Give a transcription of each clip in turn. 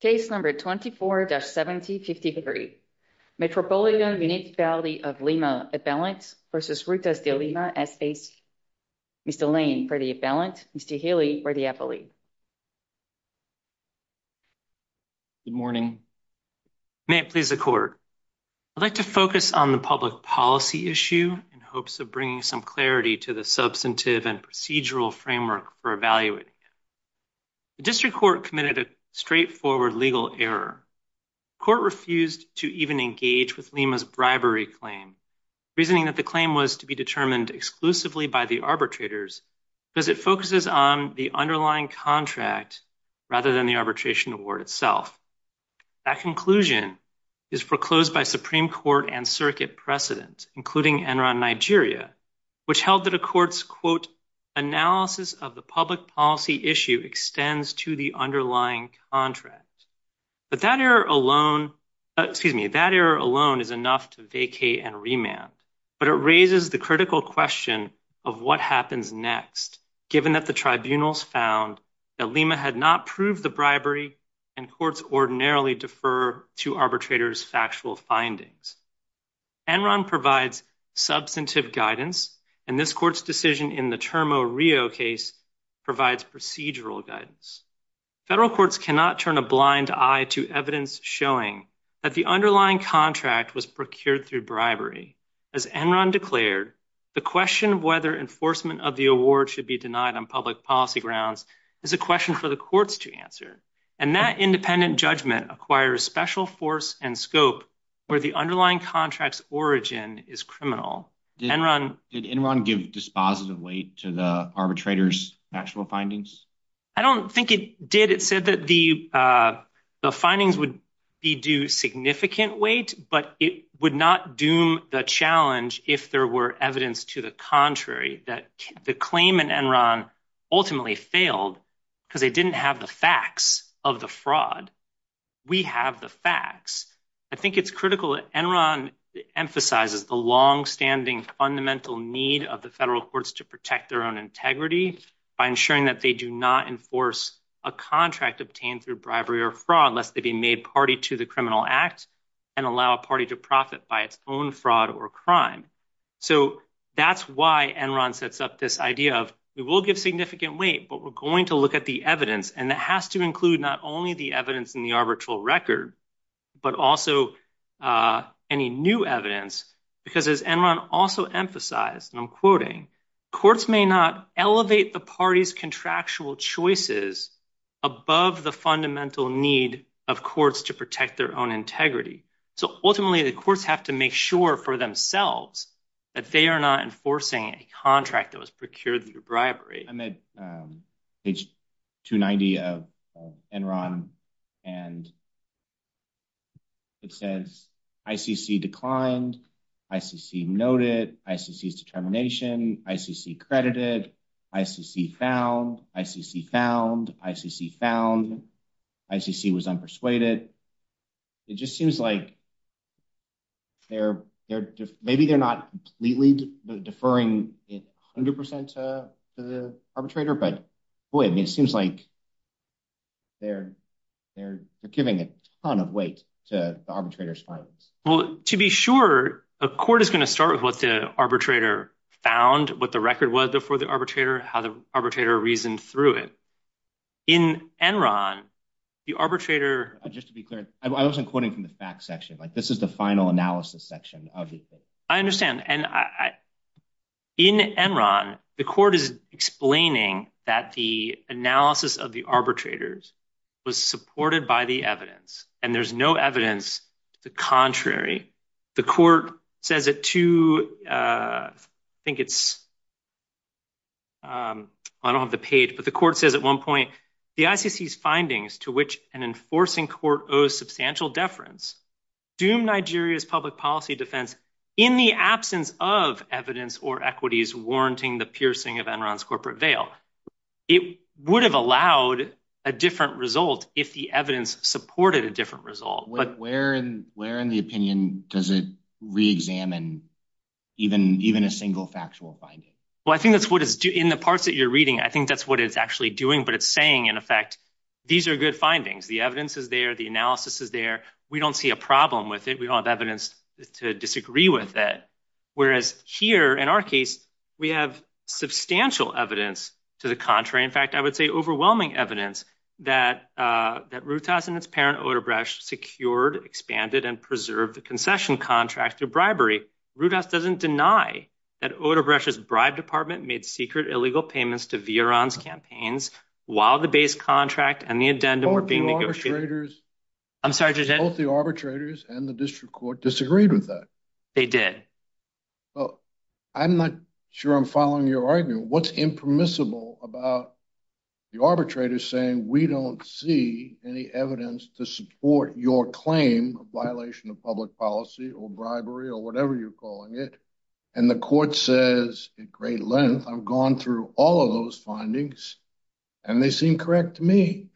Case number 24-7053. Metropolitan Municipality of Lima, Atvalent v. Rutas De Lima S.A.C. Mr. Lane for the Atvalent, Mr. Healy for the Atvalent. Good morning. May it please the court. I'd like to focus on the public policy issue in hopes of bringing some clarity to the substantive and procedural framework for evaluating it. The district court committed a straightforward legal error. The court refused to even engage with Lima's bribery claim, reasoning that the claim was to be determined exclusively by the arbitrators because it focuses on the underlying contract rather than the arbitration award itself. That conclusion is foreclosed by Supreme Court and circuit precedent, including Enron Nigeria, which held that a court's, quote, analysis of the public policy issue extends to the underlying contract. But that error alone, excuse me, that error alone is enough to vacate and remand. But it raises the critical question of what happens next, given that the tribunals found that Lima had not proved the bribery and courts ordinarily defer to arbitrators' factual findings. Enron provides substantive guidance, and this court's decision in the Termo Rio case provides procedural guidance. Federal courts cannot turn a blind eye to evidence showing that the underlying contract was procured through bribery. As Enron declared, the question of whether enforcement of the award should be denied on public policy grounds is a question for the courts to answer. And that independent judgment acquires special force and scope where the underlying contract's origin is criminal. Did Enron give dispositive weight to the arbitrators' actual findings? I don't think it did. It said that the findings would be due significant weight, but it would not doom the challenge if there were evidence to the contrary, that the claim in Enron ultimately failed because they didn't have the facts of the fraud. We have the facts. I think it's critical that Enron emphasizes the longstanding fundamental need of the federal courts to protect their own integrity by ensuring that they do not enforce a contract obtained through bribery or fraud lest they be made party to the criminal act and allow a party to profit by its own fraud or crime. So that's why Enron sets up this idea of, we will give significant weight, but we're going to look at the evidence. And that has to include not only the evidence in the arbitral record, but also any new evidence. Because as Enron also emphasized, and I'm quoting, courts may not elevate the party's contractual choices above the fundamental need of courts to their own integrity. So ultimately, the courts have to make sure for themselves that they are not enforcing a contract that was procured through bribery. I'm at page 290 of Enron, and it says, ICC declined, ICC noted, ICC's determination, ICC credited, ICC found, ICC found, ICC found, ICC was unpersuaded. It just seems like maybe they're not completely deferring 100% to the arbitrator, but boy, it seems like they're giving a ton of weight to the arbitrator's findings. Well, to be sure, a court is going to start with what the arbitrator found, what the record was before the arbitrator, how the arbitrator reasoned through it. In Enron, the arbitrator- Just to be clear, I wasn't quoting from the facts section. This is the final analysis section. I understand. In Enron, the court is explaining that the analysis of the arbitrators was supported by the evidence, and there's no evidence to the contrary. The court says at two, I think it's, I don't have the page, but the court says at one point, the ICC's findings to which an enforcing court owes substantial deference, doomed Nigeria's public policy defense in the absence of evidence or equities warranting the piercing of Enron's corporate veil. It would have allowed a different result if the evidence supported a different result. Where in the opinion does it re-examine even a single factual finding? Well, I think that's what it's doing. In the parts that you're reading, I think that's what it's actually doing, but it's saying, in effect, these are good findings. The evidence is there. The analysis is there. We don't see a problem with it. We don't have evidence to disagree with it. Whereas here, in our case, we have substantial evidence to the contrary. In fact, I would say overwhelming evidence that Rutas and its parent, Odebrecht, secured, expanded, and preserved the concession contract through bribery. Rutas doesn't deny that Odebrecht's bribe department made secret illegal payments to Vioron's campaigns while the base contract and the addendum were being negotiated. Both the arbitrators and the district court disagreed with that. They did. Well, I'm not sure I'm following your argument. What's impermissible about the arbitrators saying, we don't see any evidence to support your claim of violation of public policy or bribery or whatever you're calling it, and the court says at great length, I've gone through all of those findings, and they seem correct to me.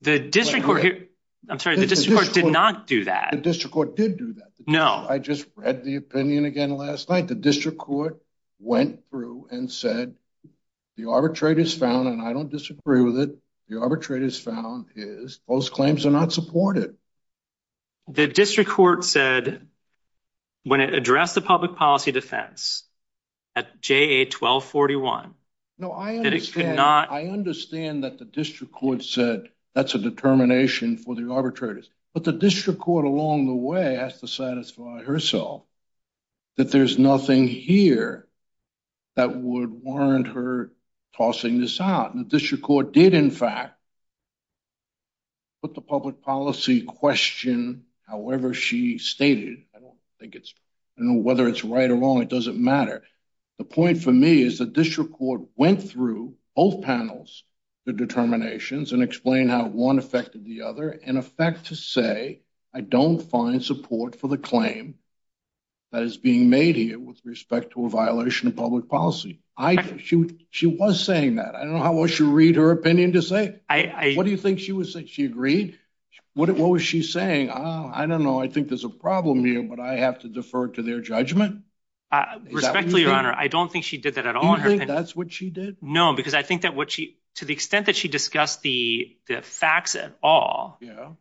The district court here, I'm sorry, the district court did not do that. The district court did do that. No. I just read the opinion again last night. The district court went through and said, the arbitrators found, and I don't disagree with it, the arbitrators found is, those claims are not supported. The district court said when it addressed the public policy defense at JA 1241. No, I understand that the district court said that's a determination for the arbitrators, but the district court along the way has to satisfy herself that there's nothing here that would warrant her tossing this out. The district court did, in fact, put the public policy question however she stated. I don't think it's, I don't know whether it's right or wrong. It doesn't matter. The point for me is that district court went through both panels, the determinations, and explained how one affected the other, in effect to say, I don't find support for the claim that is being made here with respect to a violation of public policy. She was saying that. I don't know how well she'll read her opinion to say it. What do you think she would say? She agreed? What was she saying? I don't know. I think there's a problem but I have to defer to their judgment. Respectfully, your honor, I don't think she did that at all. You think that's what she did? No, because I think that what she, to the extent that she discussed the facts at all,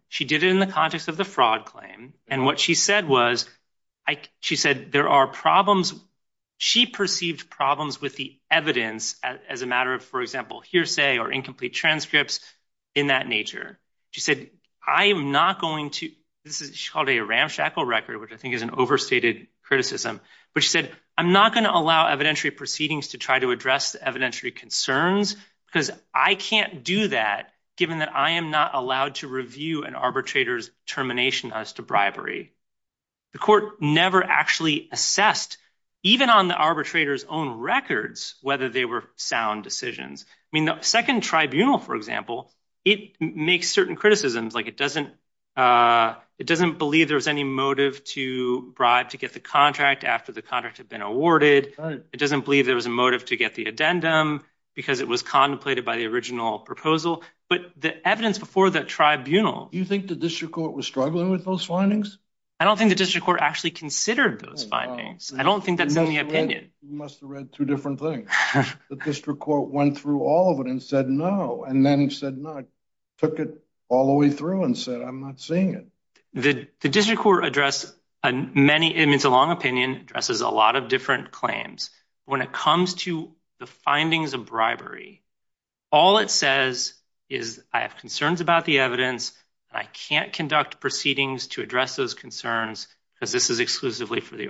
she did it in the context of the fraud claim. And what she said was, she said there are problems. She perceived problems with the evidence as a matter of, for example, hearsay or incomplete transcripts in that nature. She said, I am not going to, this is called a ramshackle record, which I think is an overstated criticism. But she said, I'm not going to allow evidentiary proceedings to try to address the evidentiary concerns because I can't do that given that I am not allowed to review an arbitrator's termination as to bribery. The court never actually assessed, even on the arbitrator's own records, whether they were sound decisions. I mean, the second tribunal, for example, it makes certain criticisms. It doesn't believe there was any motive to bribe to get the contract after the contract had been awarded. It doesn't believe there was a motive to get the addendum because it was contemplated by the original proposal. But the evidence before the tribunal- You think the district court was struggling with those findings? I don't think the district court actually considered those findings. I don't think that's in the opinion. You must have read two different things. The district court went through all of it and said, no, and then said, no, it took it all the way through and said, I'm not seeing it. The district court addressed many, it's a long opinion, addresses a lot of different claims. When it comes to the findings of bribery, all it says is, I have concerns about the evidence. I can't conduct proceedings to address those concerns because this is exclusively for the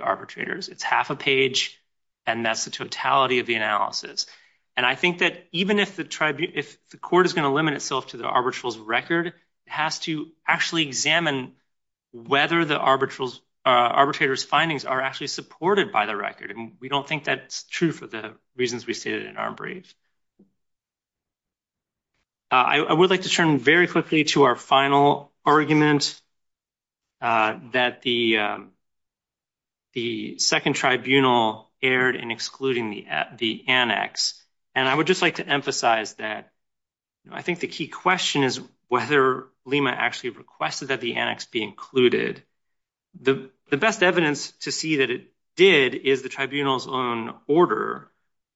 And I think that even if the court is going to limit itself to the arbitral's record, it has to actually examine whether the arbitrator's findings are actually supported by the record. And we don't think that's true for the reasons we stated in Armbrave. I would like to turn very quickly to our final argument that the second tribunal erred in excluding the annex. And I would just like to emphasize that I think the key question is whether Lima actually requested that the annex be included. The best evidence to see that it did is the tribunal's own order,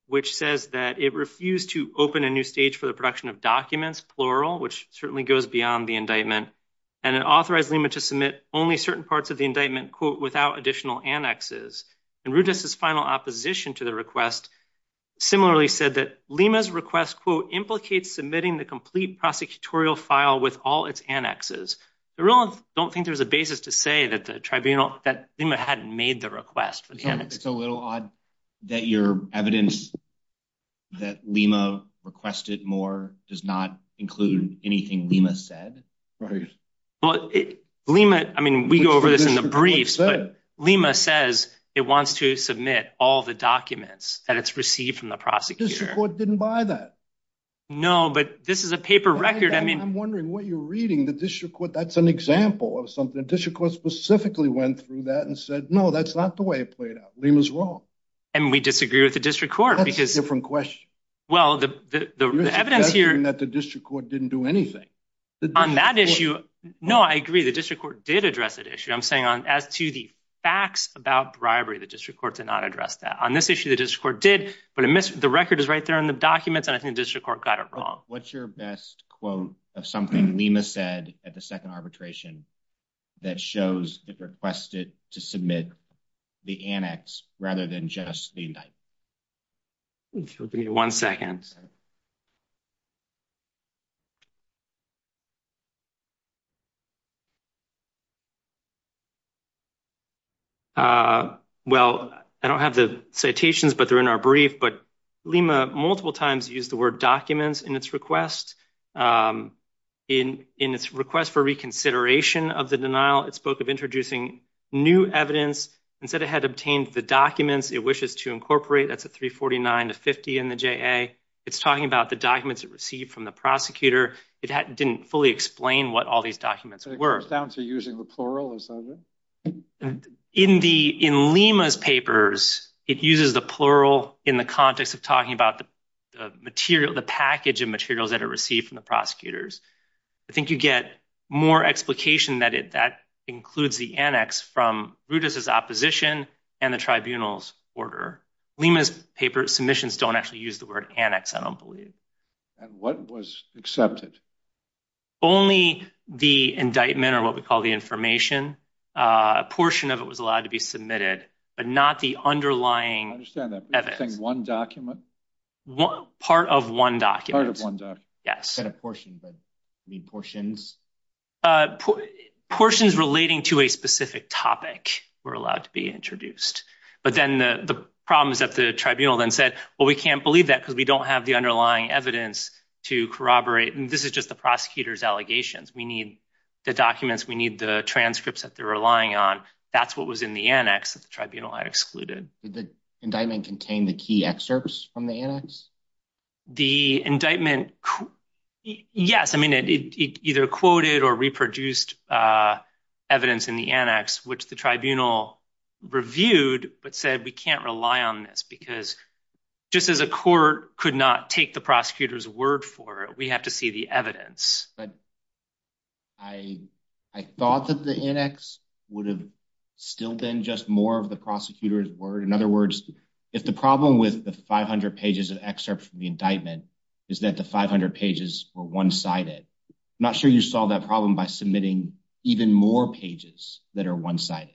which says that it refused to open a new stage for the production of documents, plural, which certainly goes beyond the indictment. And it authorized Lima to submit only certain parts of the indictment, quote, without additional annexes. And Rudess's final opposition to the request similarly said that Lima's request, quote, implicates submitting the complete prosecutorial file with all its annexes. I don't think there's a basis to say that the tribunal, that Lima hadn't made the request for the annex. It's a little odd that your evidence that Lima requested more does not include anything Lima said. Right. Well, Lima, I mean, we go over this in the briefs, but Lima says it wants to submit all the documents that it's received from the prosecutor. The district court didn't buy that. No, but this is a paper record. I mean, I'm wondering what you're reading. The district court, that's an example of something. The district court specifically went through that and said, no, that's not the way it played out. Lima's wrong. And we disagree with the district court. That's a different question. Well, the evidence here... That the district court didn't do anything. On that issue, no, I agree. The district court did address that issue. I'm saying as to the facts about bribery, the district court did not address that. On this issue, the district court did, but the record is right there in the documents, and I think the district court got it wrong. What's your best quote of something Lima said at the second arbitration that shows it requested to submit the annex rather than just the indictment? Give me one second. Well, I don't have the citations, but they're in our brief, but Lima multiple times used the word documents in its request. In its request for reconsideration of the denial, it spoke of new evidence. Instead, it had obtained the documents it wishes to incorporate. That's a 349 to 50 in the JA. It's talking about the documents it received from the prosecutor. It didn't fully explain what all these documents were. It goes down to using the plural, or something? In Lima's papers, it uses the plural in the context of talking about the package of materials that it received from the prosecutors. I think you get more explication that that includes the annex from Rutas' opposition and the tribunal's order. Lima's paper submissions don't actually use the word annex, I don't believe. And what was accepted? Only the indictment, or what we call the information. A portion of it was allowed to be submitted, but not the underlying evidence. I understand that, but you're saying one document? Part of one document. Part of one document. Yes. You said a portion, but you mean portions? Portions relating to a specific topic were allowed to be introduced. But then the problem is that the tribunal then said, well, we can't believe that because we don't have the underlying evidence to corroborate. This is just the prosecutor's allegations. We need the documents. We need the transcripts that they're relying on. That's what was in the annex that the tribunal had excluded. Did the indictment contain the key excerpts from the annex? The indictment, yes. I mean, it either quoted or reproduced evidence in the annex, which the tribunal reviewed, but said, we can't rely on this because just as a court could not take the prosecutor's word for it, we have to see the evidence. I thought that the annex would have still been just more of the prosecutor's word. In other words, if the problem with the 500 pages of excerpts from the indictment is that the 500 pages were one-sided, I'm not sure you solved that problem by submitting even more pages that are one-sided.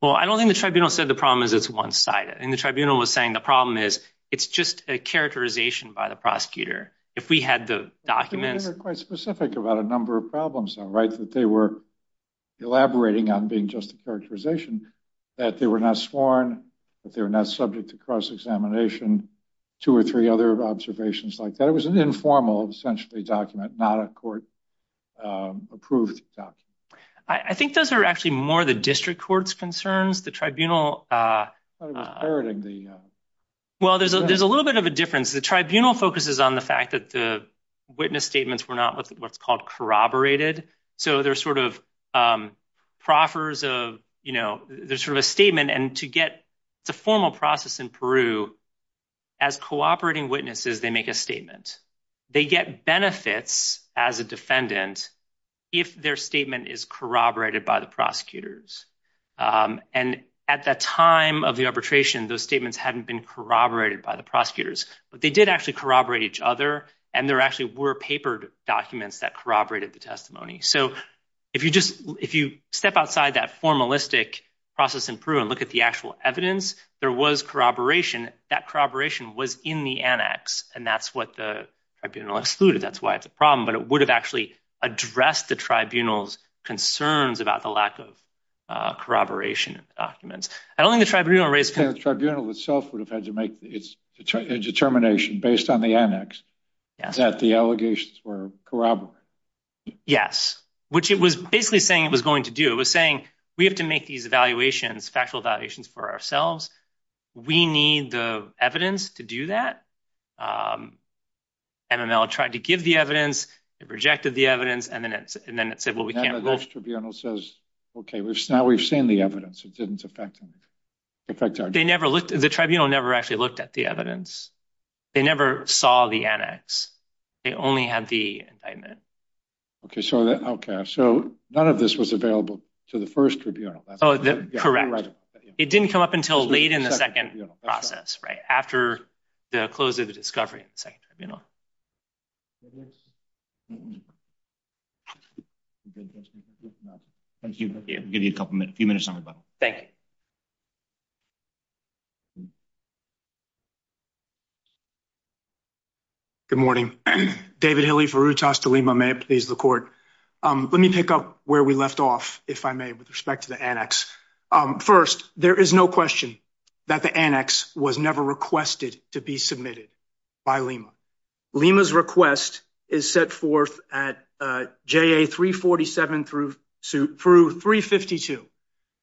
Well, I don't think the tribunal said the problem is it's one-sided. And the tribunal was saying the problem is it's just a characterization by the prosecutor. If we had the documents... They were quite specific about a number of problems though, right? That they were elaborating on being just a characterization, that they were not sworn, that they were not subject to cross-examination, two or three other observations like that. It was an informal, essentially, document, not a court-approved document. I think those are actually more the district court's concerns. The tribunal... I thought it was parroting the... Well, there's a little bit of a difference. The tribunal focuses on the fact that the witness statements were not what's called corroborated. So they're sort of proffers of... There's sort of a statement and to get... It's a formal process in Peru. As cooperating witnesses, they make a statement. They get benefits as a defendant if their statement is corroborated by the prosecutors. And at the time of the arbitration, those statements hadn't been corroborated by the prosecutors, but they did actually corroborate each other. And there actually were papered documents that corroborated the testimony. So if you step outside that formalistic process in Peru and look at the actual evidence, there was corroboration. That corroboration was in the annex and that's what the tribunal excluded. That's why it's a problem, but it would have actually addressed the tribunal's concerns about the lack of corroboration in the documents. I don't think the tribunal raised... The tribunal itself would have had to make a determination based on the annex that the allegations were corroborated. Yes, which it was basically saying it was going to do. It was saying, we have to make these evaluations, factual evaluations for ourselves. We need the evidence to do that. MML tried to give the evidence, it rejected the evidence, and then it said, well, we can't... And then the next tribunal says, okay, now we've seen the evidence. It didn't affect anything. The tribunal never actually looked at the evidence. They never saw the annex. They only had the indictment. Okay. So none of this was available to the first tribunal. Oh, correct. It didn't come up until late in the second process, right after the close of the discovery in the second tribunal. Thank you. I'll give you a couple minutes, a few minutes on the button. Thank you. Good morning. David Hilley, Verutas de Lima, may it please the court. Let me pick up where we left off, if I may, with respect to the annex. First, there is no question that the annex was never requested to be submitted by Lima. Lima's request is set forth at JA 347 through 352.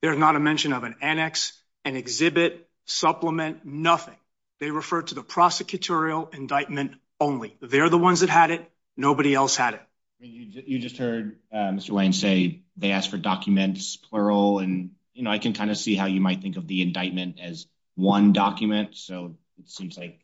There is not a mention of an annex, an indictment, or an indictment. Supplement, nothing. They refer to the prosecutorial indictment only. They're the ones that had it. Nobody else had it. You just heard Mr. Lane say they asked for documents, plural. And, you know, I can kind of see how you might think of the indictment as one document. So it seems like,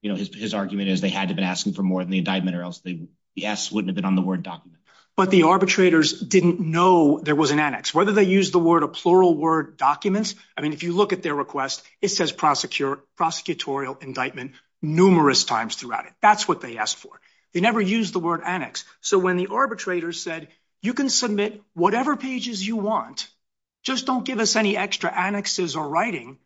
you know, his argument is they had to have been asking for more than the indictment or else the S wouldn't have been on the word document. But the arbitrators didn't know there was an annex. Whether they used the word, documents. I mean, if you look at their request, it says prosecutorial indictment numerous times throughout it. That's what they asked for. They never used the word annex. So when the arbitrators said, you can submit whatever pages you want. Just don't give us any extra annexes or writing.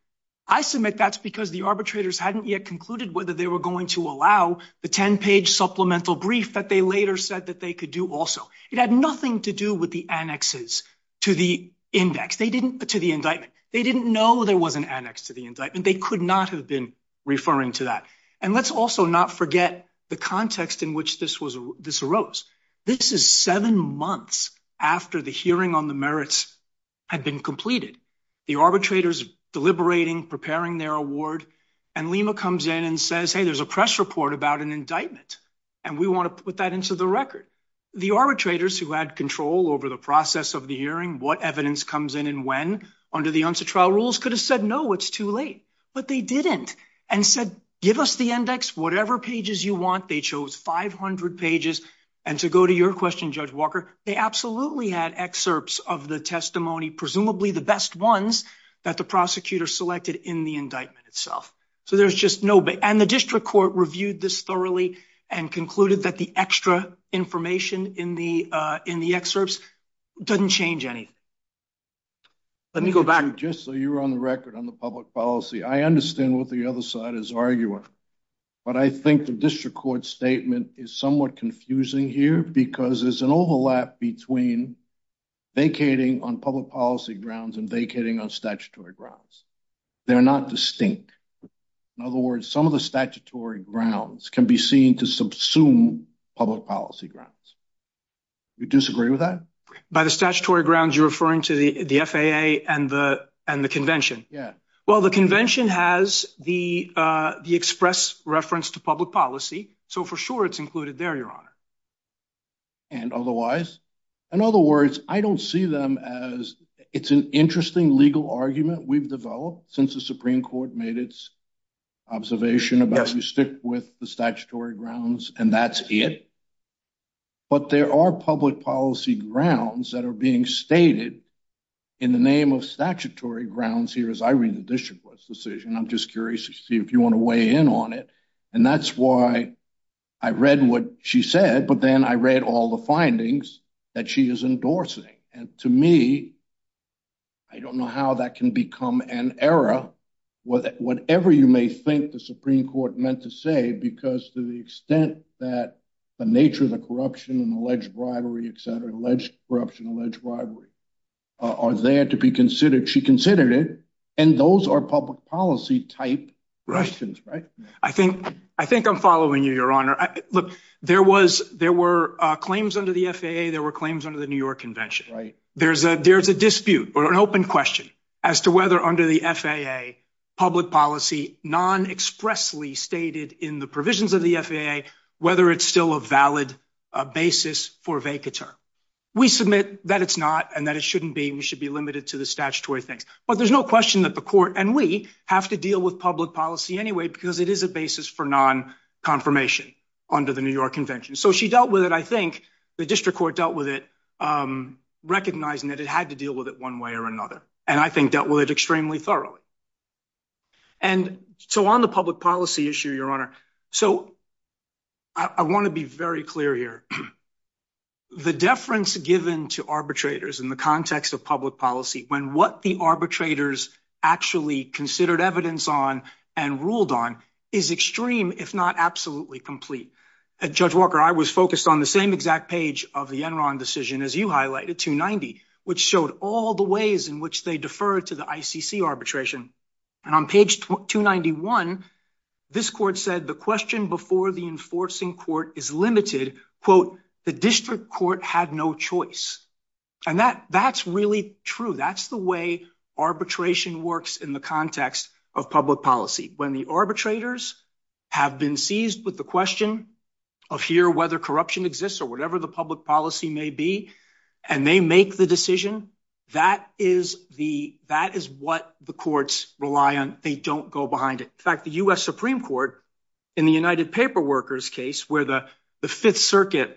I submit that's because the arbitrators hadn't yet concluded whether they were going to allow the 10-page supplemental brief that they later said that they could do also. It had nothing to do with the annexes to the indictment. They didn't know there was an annex to the indictment. They could not have been referring to that. And let's also not forget the context in which this arose. This is seven months after the hearing on the merits had been completed. The arbitrators deliberating, preparing their award. And Lima comes in and says, hey, there's a press report about an indictment. And we want to put that into the record. The arbitrators who had control over the process of the hearing, what evidence comes in and when under the UNSA trial rules could have said, no, it's too late. But they didn't and said, give us the index, whatever pages you want. They chose 500 pages. And to go to your question, Judge Walker, they absolutely had excerpts of the testimony, presumably the best ones that the prosecutor selected in the indictment itself. So there's just no, and the district court reviewed this thoroughly and concluded that the extra information in the excerpts doesn't change anything. Let me go back. Just so you're on the record on the public policy, I understand what the other side is arguing. But I think the district court statement is somewhat confusing here because there's an overlap between vacating on public policy grounds and vacating on statutory grounds. They're not distinct. In other words, some of the statutory grounds can be seen to subsume public policy grounds. Do you disagree with that? By the statutory grounds, you're referring to the FAA and the convention? Yeah. Well, the convention has the express reference to public policy, so for sure it's included there, Your Honor. And otherwise? In other words, I don't see them as, it's an interesting legal argument we've developed since the Supreme Court made its observation about you stick with the statutory grounds and that's it. But there are public policy grounds that are being stated in the name of statutory grounds here as I read the district court's decision. I'm just curious to see if you want to weigh in on it. And that's why I read what she said, but then I read all the findings that she is endorsing. And to me, I don't know how that can become an error, whatever you may think the Supreme Court meant to say, because to the extent that the nature of the corruption and alleged bribery, et cetera, alleged corruption, alleged bribery are there to be considered, she considered it, and those are public policy type questions, right? I think I'm following you, Your Honor. Look, there were claims under the FAA, there were claims under the New York convention. There's a dispute or an open question as to whether under the FAA, public policy non-expressly stated in the provisions of the FAA, whether it's still a valid basis for vacatur. We submit that it's not and that it shouldn't be, we should be limited to the statutory things. But there's no question that the court and we have to deal with public policy anyway, because it is a basis for non-confirmation under the New York convention. So she dealt with it, I think the district court dealt with it, recognizing that it had to deal with it one way or another, and I think dealt with it extremely thoroughly. And so on the public policy issue, Your Honor, so I want to be very clear here. The deference given to arbitrators in the context of public policy, when what the arbitrators actually considered evidence on and ruled on is extreme, if not absolutely complete. Judge Walker, I was focused on the same exact page of the Enron decision, as you highlighted, 290, which showed all the ways in which they defer to the ICC arbitration. And on page 291, this court said the question before the enforcing court is limited, quote, the district court had no choice. And that's really true. That's the way arbitration works in the context of public policy. When the arbitrators have been seized with the question of here whether corruption exists or whatever the public policy may be, and they make the decision, that is what the courts rely on. They don't go behind it. In fact, the U.S. Supreme Court in the United Paper Workers case where the Fifth Circuit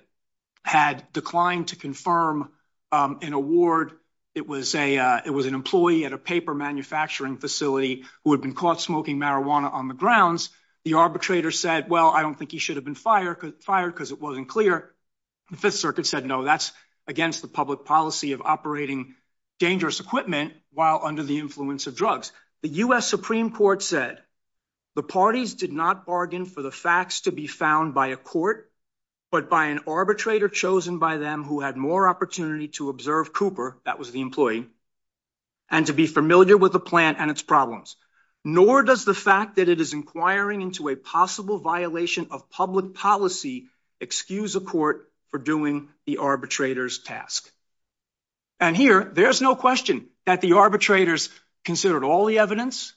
had declined to confirm an award, it was an employee at a paper manufacturing facility who had been caught smoking marijuana on the grounds. The arbitrator said, well, I don't think he should have been fired because it wasn't clear. The Fifth Circuit said, no, that's against the public policy of operating dangerous equipment while under the influence of drugs. The U.S. Supreme Court said the parties did not bargain for the facts to be found by a court, but by an arbitrator chosen by them who had more opportunity to observe Cooper, that was the employee, and to be familiar with the plan and its problems. Nor does the fact that it is inquiring into a possible violation of public policy excuse a court for doing the arbitrator's task. And here, there's no question that the arbitrators considered all the evidence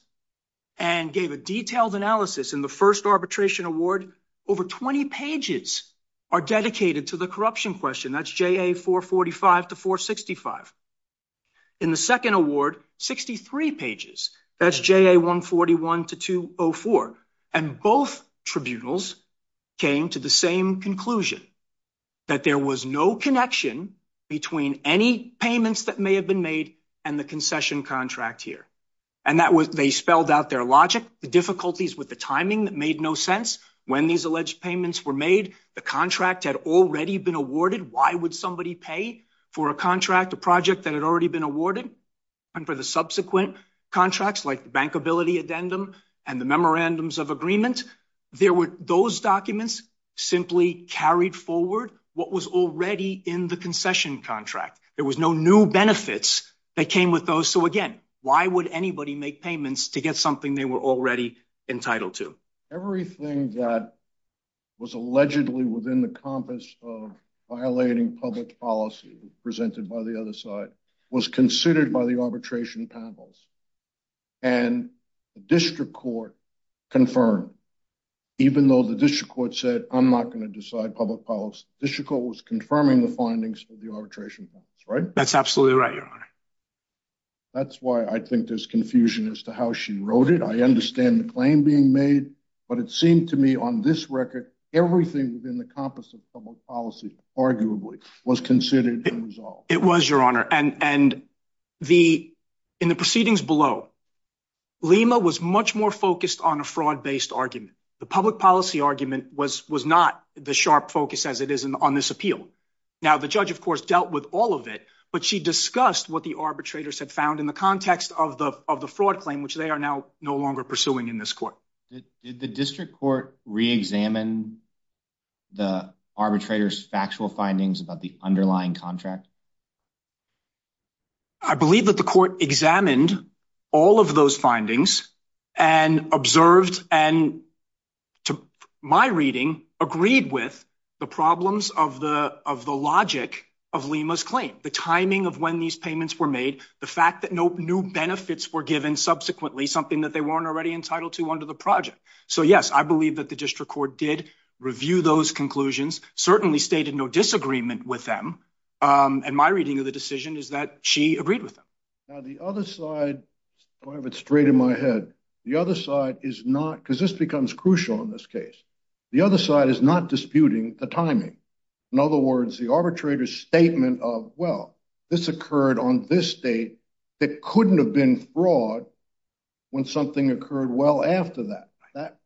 and gave a detailed analysis. In the first arbitration award, over 20 pages are dedicated to the corruption question. That's JA 445 to 465. In the second award, 63 pages. That's JA 141 to 204. And both tribunals came to the same conclusion that there was no connection between any payments that may have been made and the concession contract here. And that was, they spelled out their logic, the difficulties with the timing that made no sense. When these alleged payments were made, the contract had already been awarded. Why would somebody pay for a contract, a project that had already been awarded? And for the subsequent contracts, like the bankability addendum and the memorandums of agreement, there were those documents simply carried forward what was already in the concession contract. There was no new benefits that came with those. So again, why would anybody make payments to get something they were already entitled to? Everything that was allegedly within the compass of violating public policy presented by the other side was considered by the arbitration panels. And the district court confirmed, even though the district court said, I'm not going to decide public policy, the district court was confirming the findings of the arbitration panels, right? That's absolutely right, your honor. That's why I think there's confusion as to how she wrote it. I understand the claim being made, but it seemed to me on this record, everything within the compass of public policy, arguably, was considered unresolved. It was, your honor. And in the proceedings below, Lima was much more focused on a fraud-based argument. The public policy argument was not the sharp focus as it is on this appeal. Now, the judge, of course, dealt with all of it, but she discussed what the arbitrators had found in the context of the fraud claim, which they are now no longer pursuing in this court. Did the district court re-examine the arbitrators' factual findings about the underlying contract? I believe that the court examined all of those findings and observed and, to my reading, agreed with the problems of the logic of Lima's claim, the timing of when these payments were made, the fact that no new benefits were given subsequently, something that they weren't already entitled to under the project. So, yes, I believe that the district court did review those conclusions, certainly stated no disagreement with them, and my reading of the decision is that she agreed with them. Now, the other side, I have it straight in my head, the other side is not, because this becomes crucial in this case, the other side is not disputing the timing. In other words, the arbitrator's statement of, well, this occurred on this date, it couldn't have been fraud when something occurred well after that.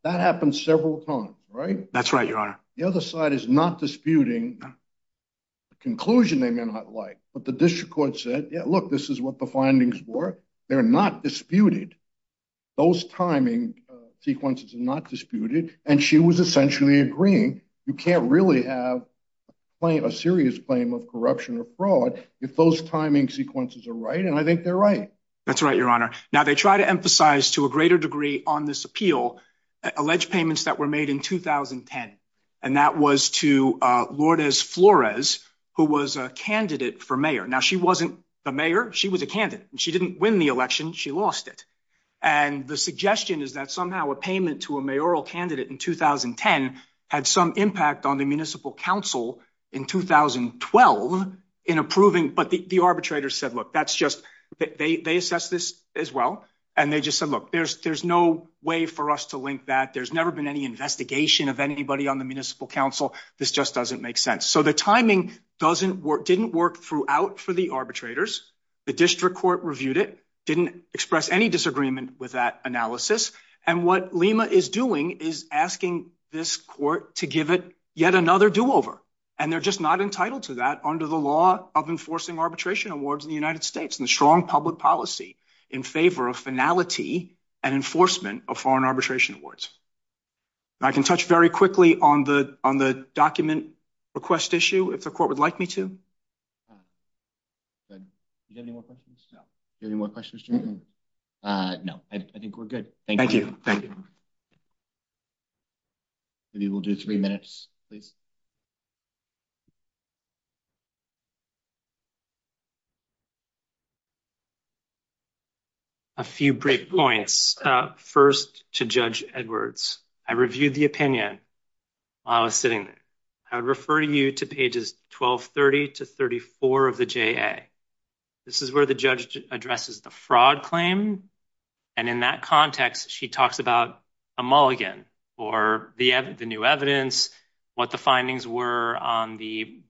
That happened several times, right? That's right, your honor. The other side is not disputing the conclusion they may not like, but the district court said, yeah, look, this is what the findings were. They're not disputed. Those timing sequences are not disputed, and she was essentially agreeing, you can't really have a serious claim of corruption or fraud if those timing sequences are right, and I think they're right. That's right, your honor. Now, they try to emphasize to a greater degree on this appeal alleged payments that were made in 2010, and that was to Lourdes Flores, who was a candidate for mayor. Now, she wasn't the mayor, she was a candidate, and she didn't win the election, she lost it, and the suggestion is that somehow a payment to a mayoral candidate in 2010 had some impact on the municipal council in 2012 in approving, but the arbitrator said, look, that's just, they assessed this as well, and they just said, look, there's no way for us to link that, there's never been any investigation of anybody on the municipal council, this just doesn't make sense. So the timing didn't work throughout for the arbitrators, the district court reviewed it, didn't express any disagreement with that analysis, and what Lima is doing is asking this court to give it yet another do-over, and they're just not entitled to that under the law of enforcing arbitration awards in the United States, and the strong public policy in favor of finality and enforcement of foreign arbitration awards. I can touch very quickly on the on the document request issue, if the court would like me to. Good. Do you have any more questions? No. Do you have any more questions? No, I think we're good. Thank you, thank you. Maybe we'll do three minutes, please. A few break points. First, to Judge Edwards. I reviewed the opinion while I was sitting there. I would refer you to pages 1230 to 1234 of the JA. This is where the judge addresses the fraud claim, and in that context, she talks about a mulligan, or the new evidence, what the findings were on the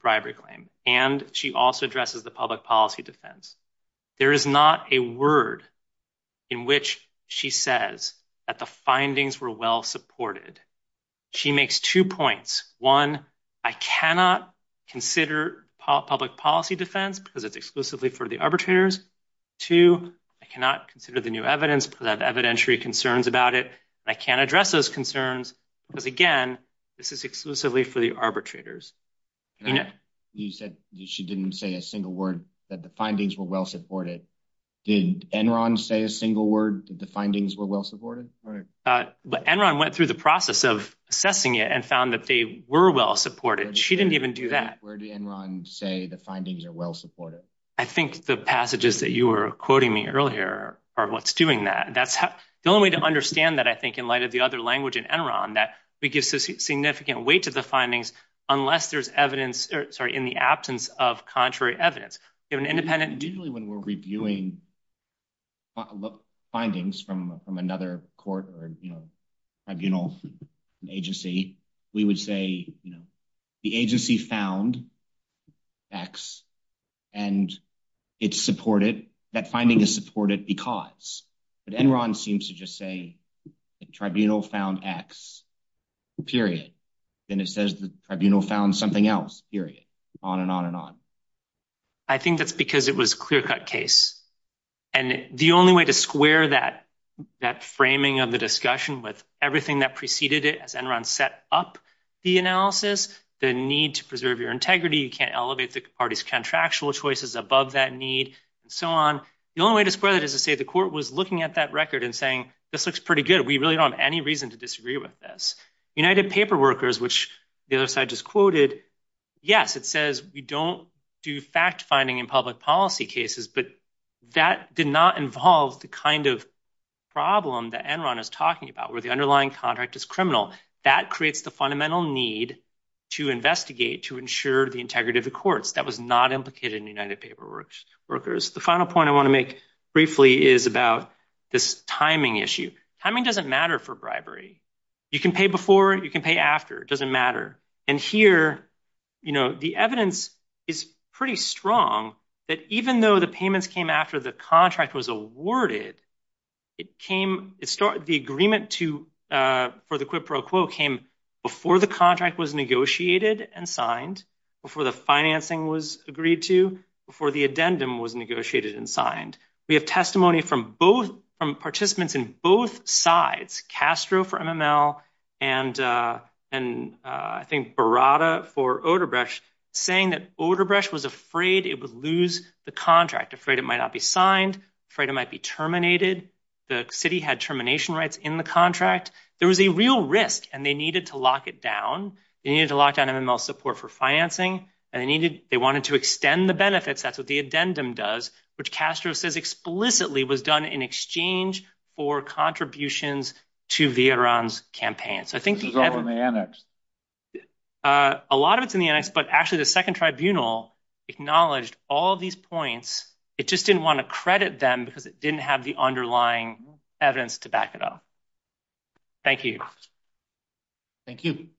policy defense. There is not a word in which she says that the findings were well supported. She makes two points. One, I cannot consider public policy defense because it's exclusively for the arbitrators. Two, I cannot consider the new evidence because I have evidentiary concerns about it, and I can't address those concerns because, again, this is exclusively for the arbitrators. You said that she didn't say a single word that the findings were well supported. Did Enron say a single word that the findings were well supported? Enron went through the process of assessing it and found that they were well supported. She didn't even do that. Where did Enron say the findings are well supported? I think the passages that you were quoting me earlier are what's doing that. That's the only way to understand that, I think, in light of the other language in Enron, that gives significant weight to the findings unless there's evidence in the absence of contrary evidence. Usually, when we're reviewing findings from another court or tribunal agency, we would say the agency found X, and that finding is supported because. But Enron seems to just say the tribunal found X, period. Then it says the tribunal found something else, period, on and on and on. I think that's because it was a clear-cut case. The only way to square that framing of the discussion with everything that preceded it, as Enron set up the analysis, the need to preserve your integrity, you can't elevate the party's contractual choices above that need, and so on. The only way to square that is to say the court was looking at that record and saying, this looks pretty good. We really don't have any reason to disagree with this. United Paperworkers, which the other side just quoted, yes, it says we don't do fact-finding in public policy cases, but that did not involve the kind of problem that Enron is talking about, where the underlying contract is criminal. That creates the fundamental need to investigate, to ensure the integrity of the courts. That was not implicated in United Paperworkers. The final point I want to make briefly is about this timing issue. Timing doesn't matter for bribery. You can pay before, you can pay after. It doesn't matter. Here, the evidence is pretty strong that even though the payments came after the contract was awarded, the agreement for the financing was agreed to before the addendum was negotiated and signed. We have testimony from participants in both sides, Castro for MML and I think Barada for Odebrecht, saying that Odebrecht was afraid it would lose the contract, afraid it might not be signed, afraid it might be terminated. The city had termination rights in the contract. There was a real risk, and they needed to lock it down. They needed to lock down MML's support for financing, and they wanted to extend the benefits. That's what the addendum does, which Castro says explicitly was done in exchange for contributions to the Enron's campaign. A lot of it's in the annex, but actually the second tribunal acknowledged all these points. It just didn't want to credit them because it didn't have the underlying evidence to back it up. Thank you. Thank you.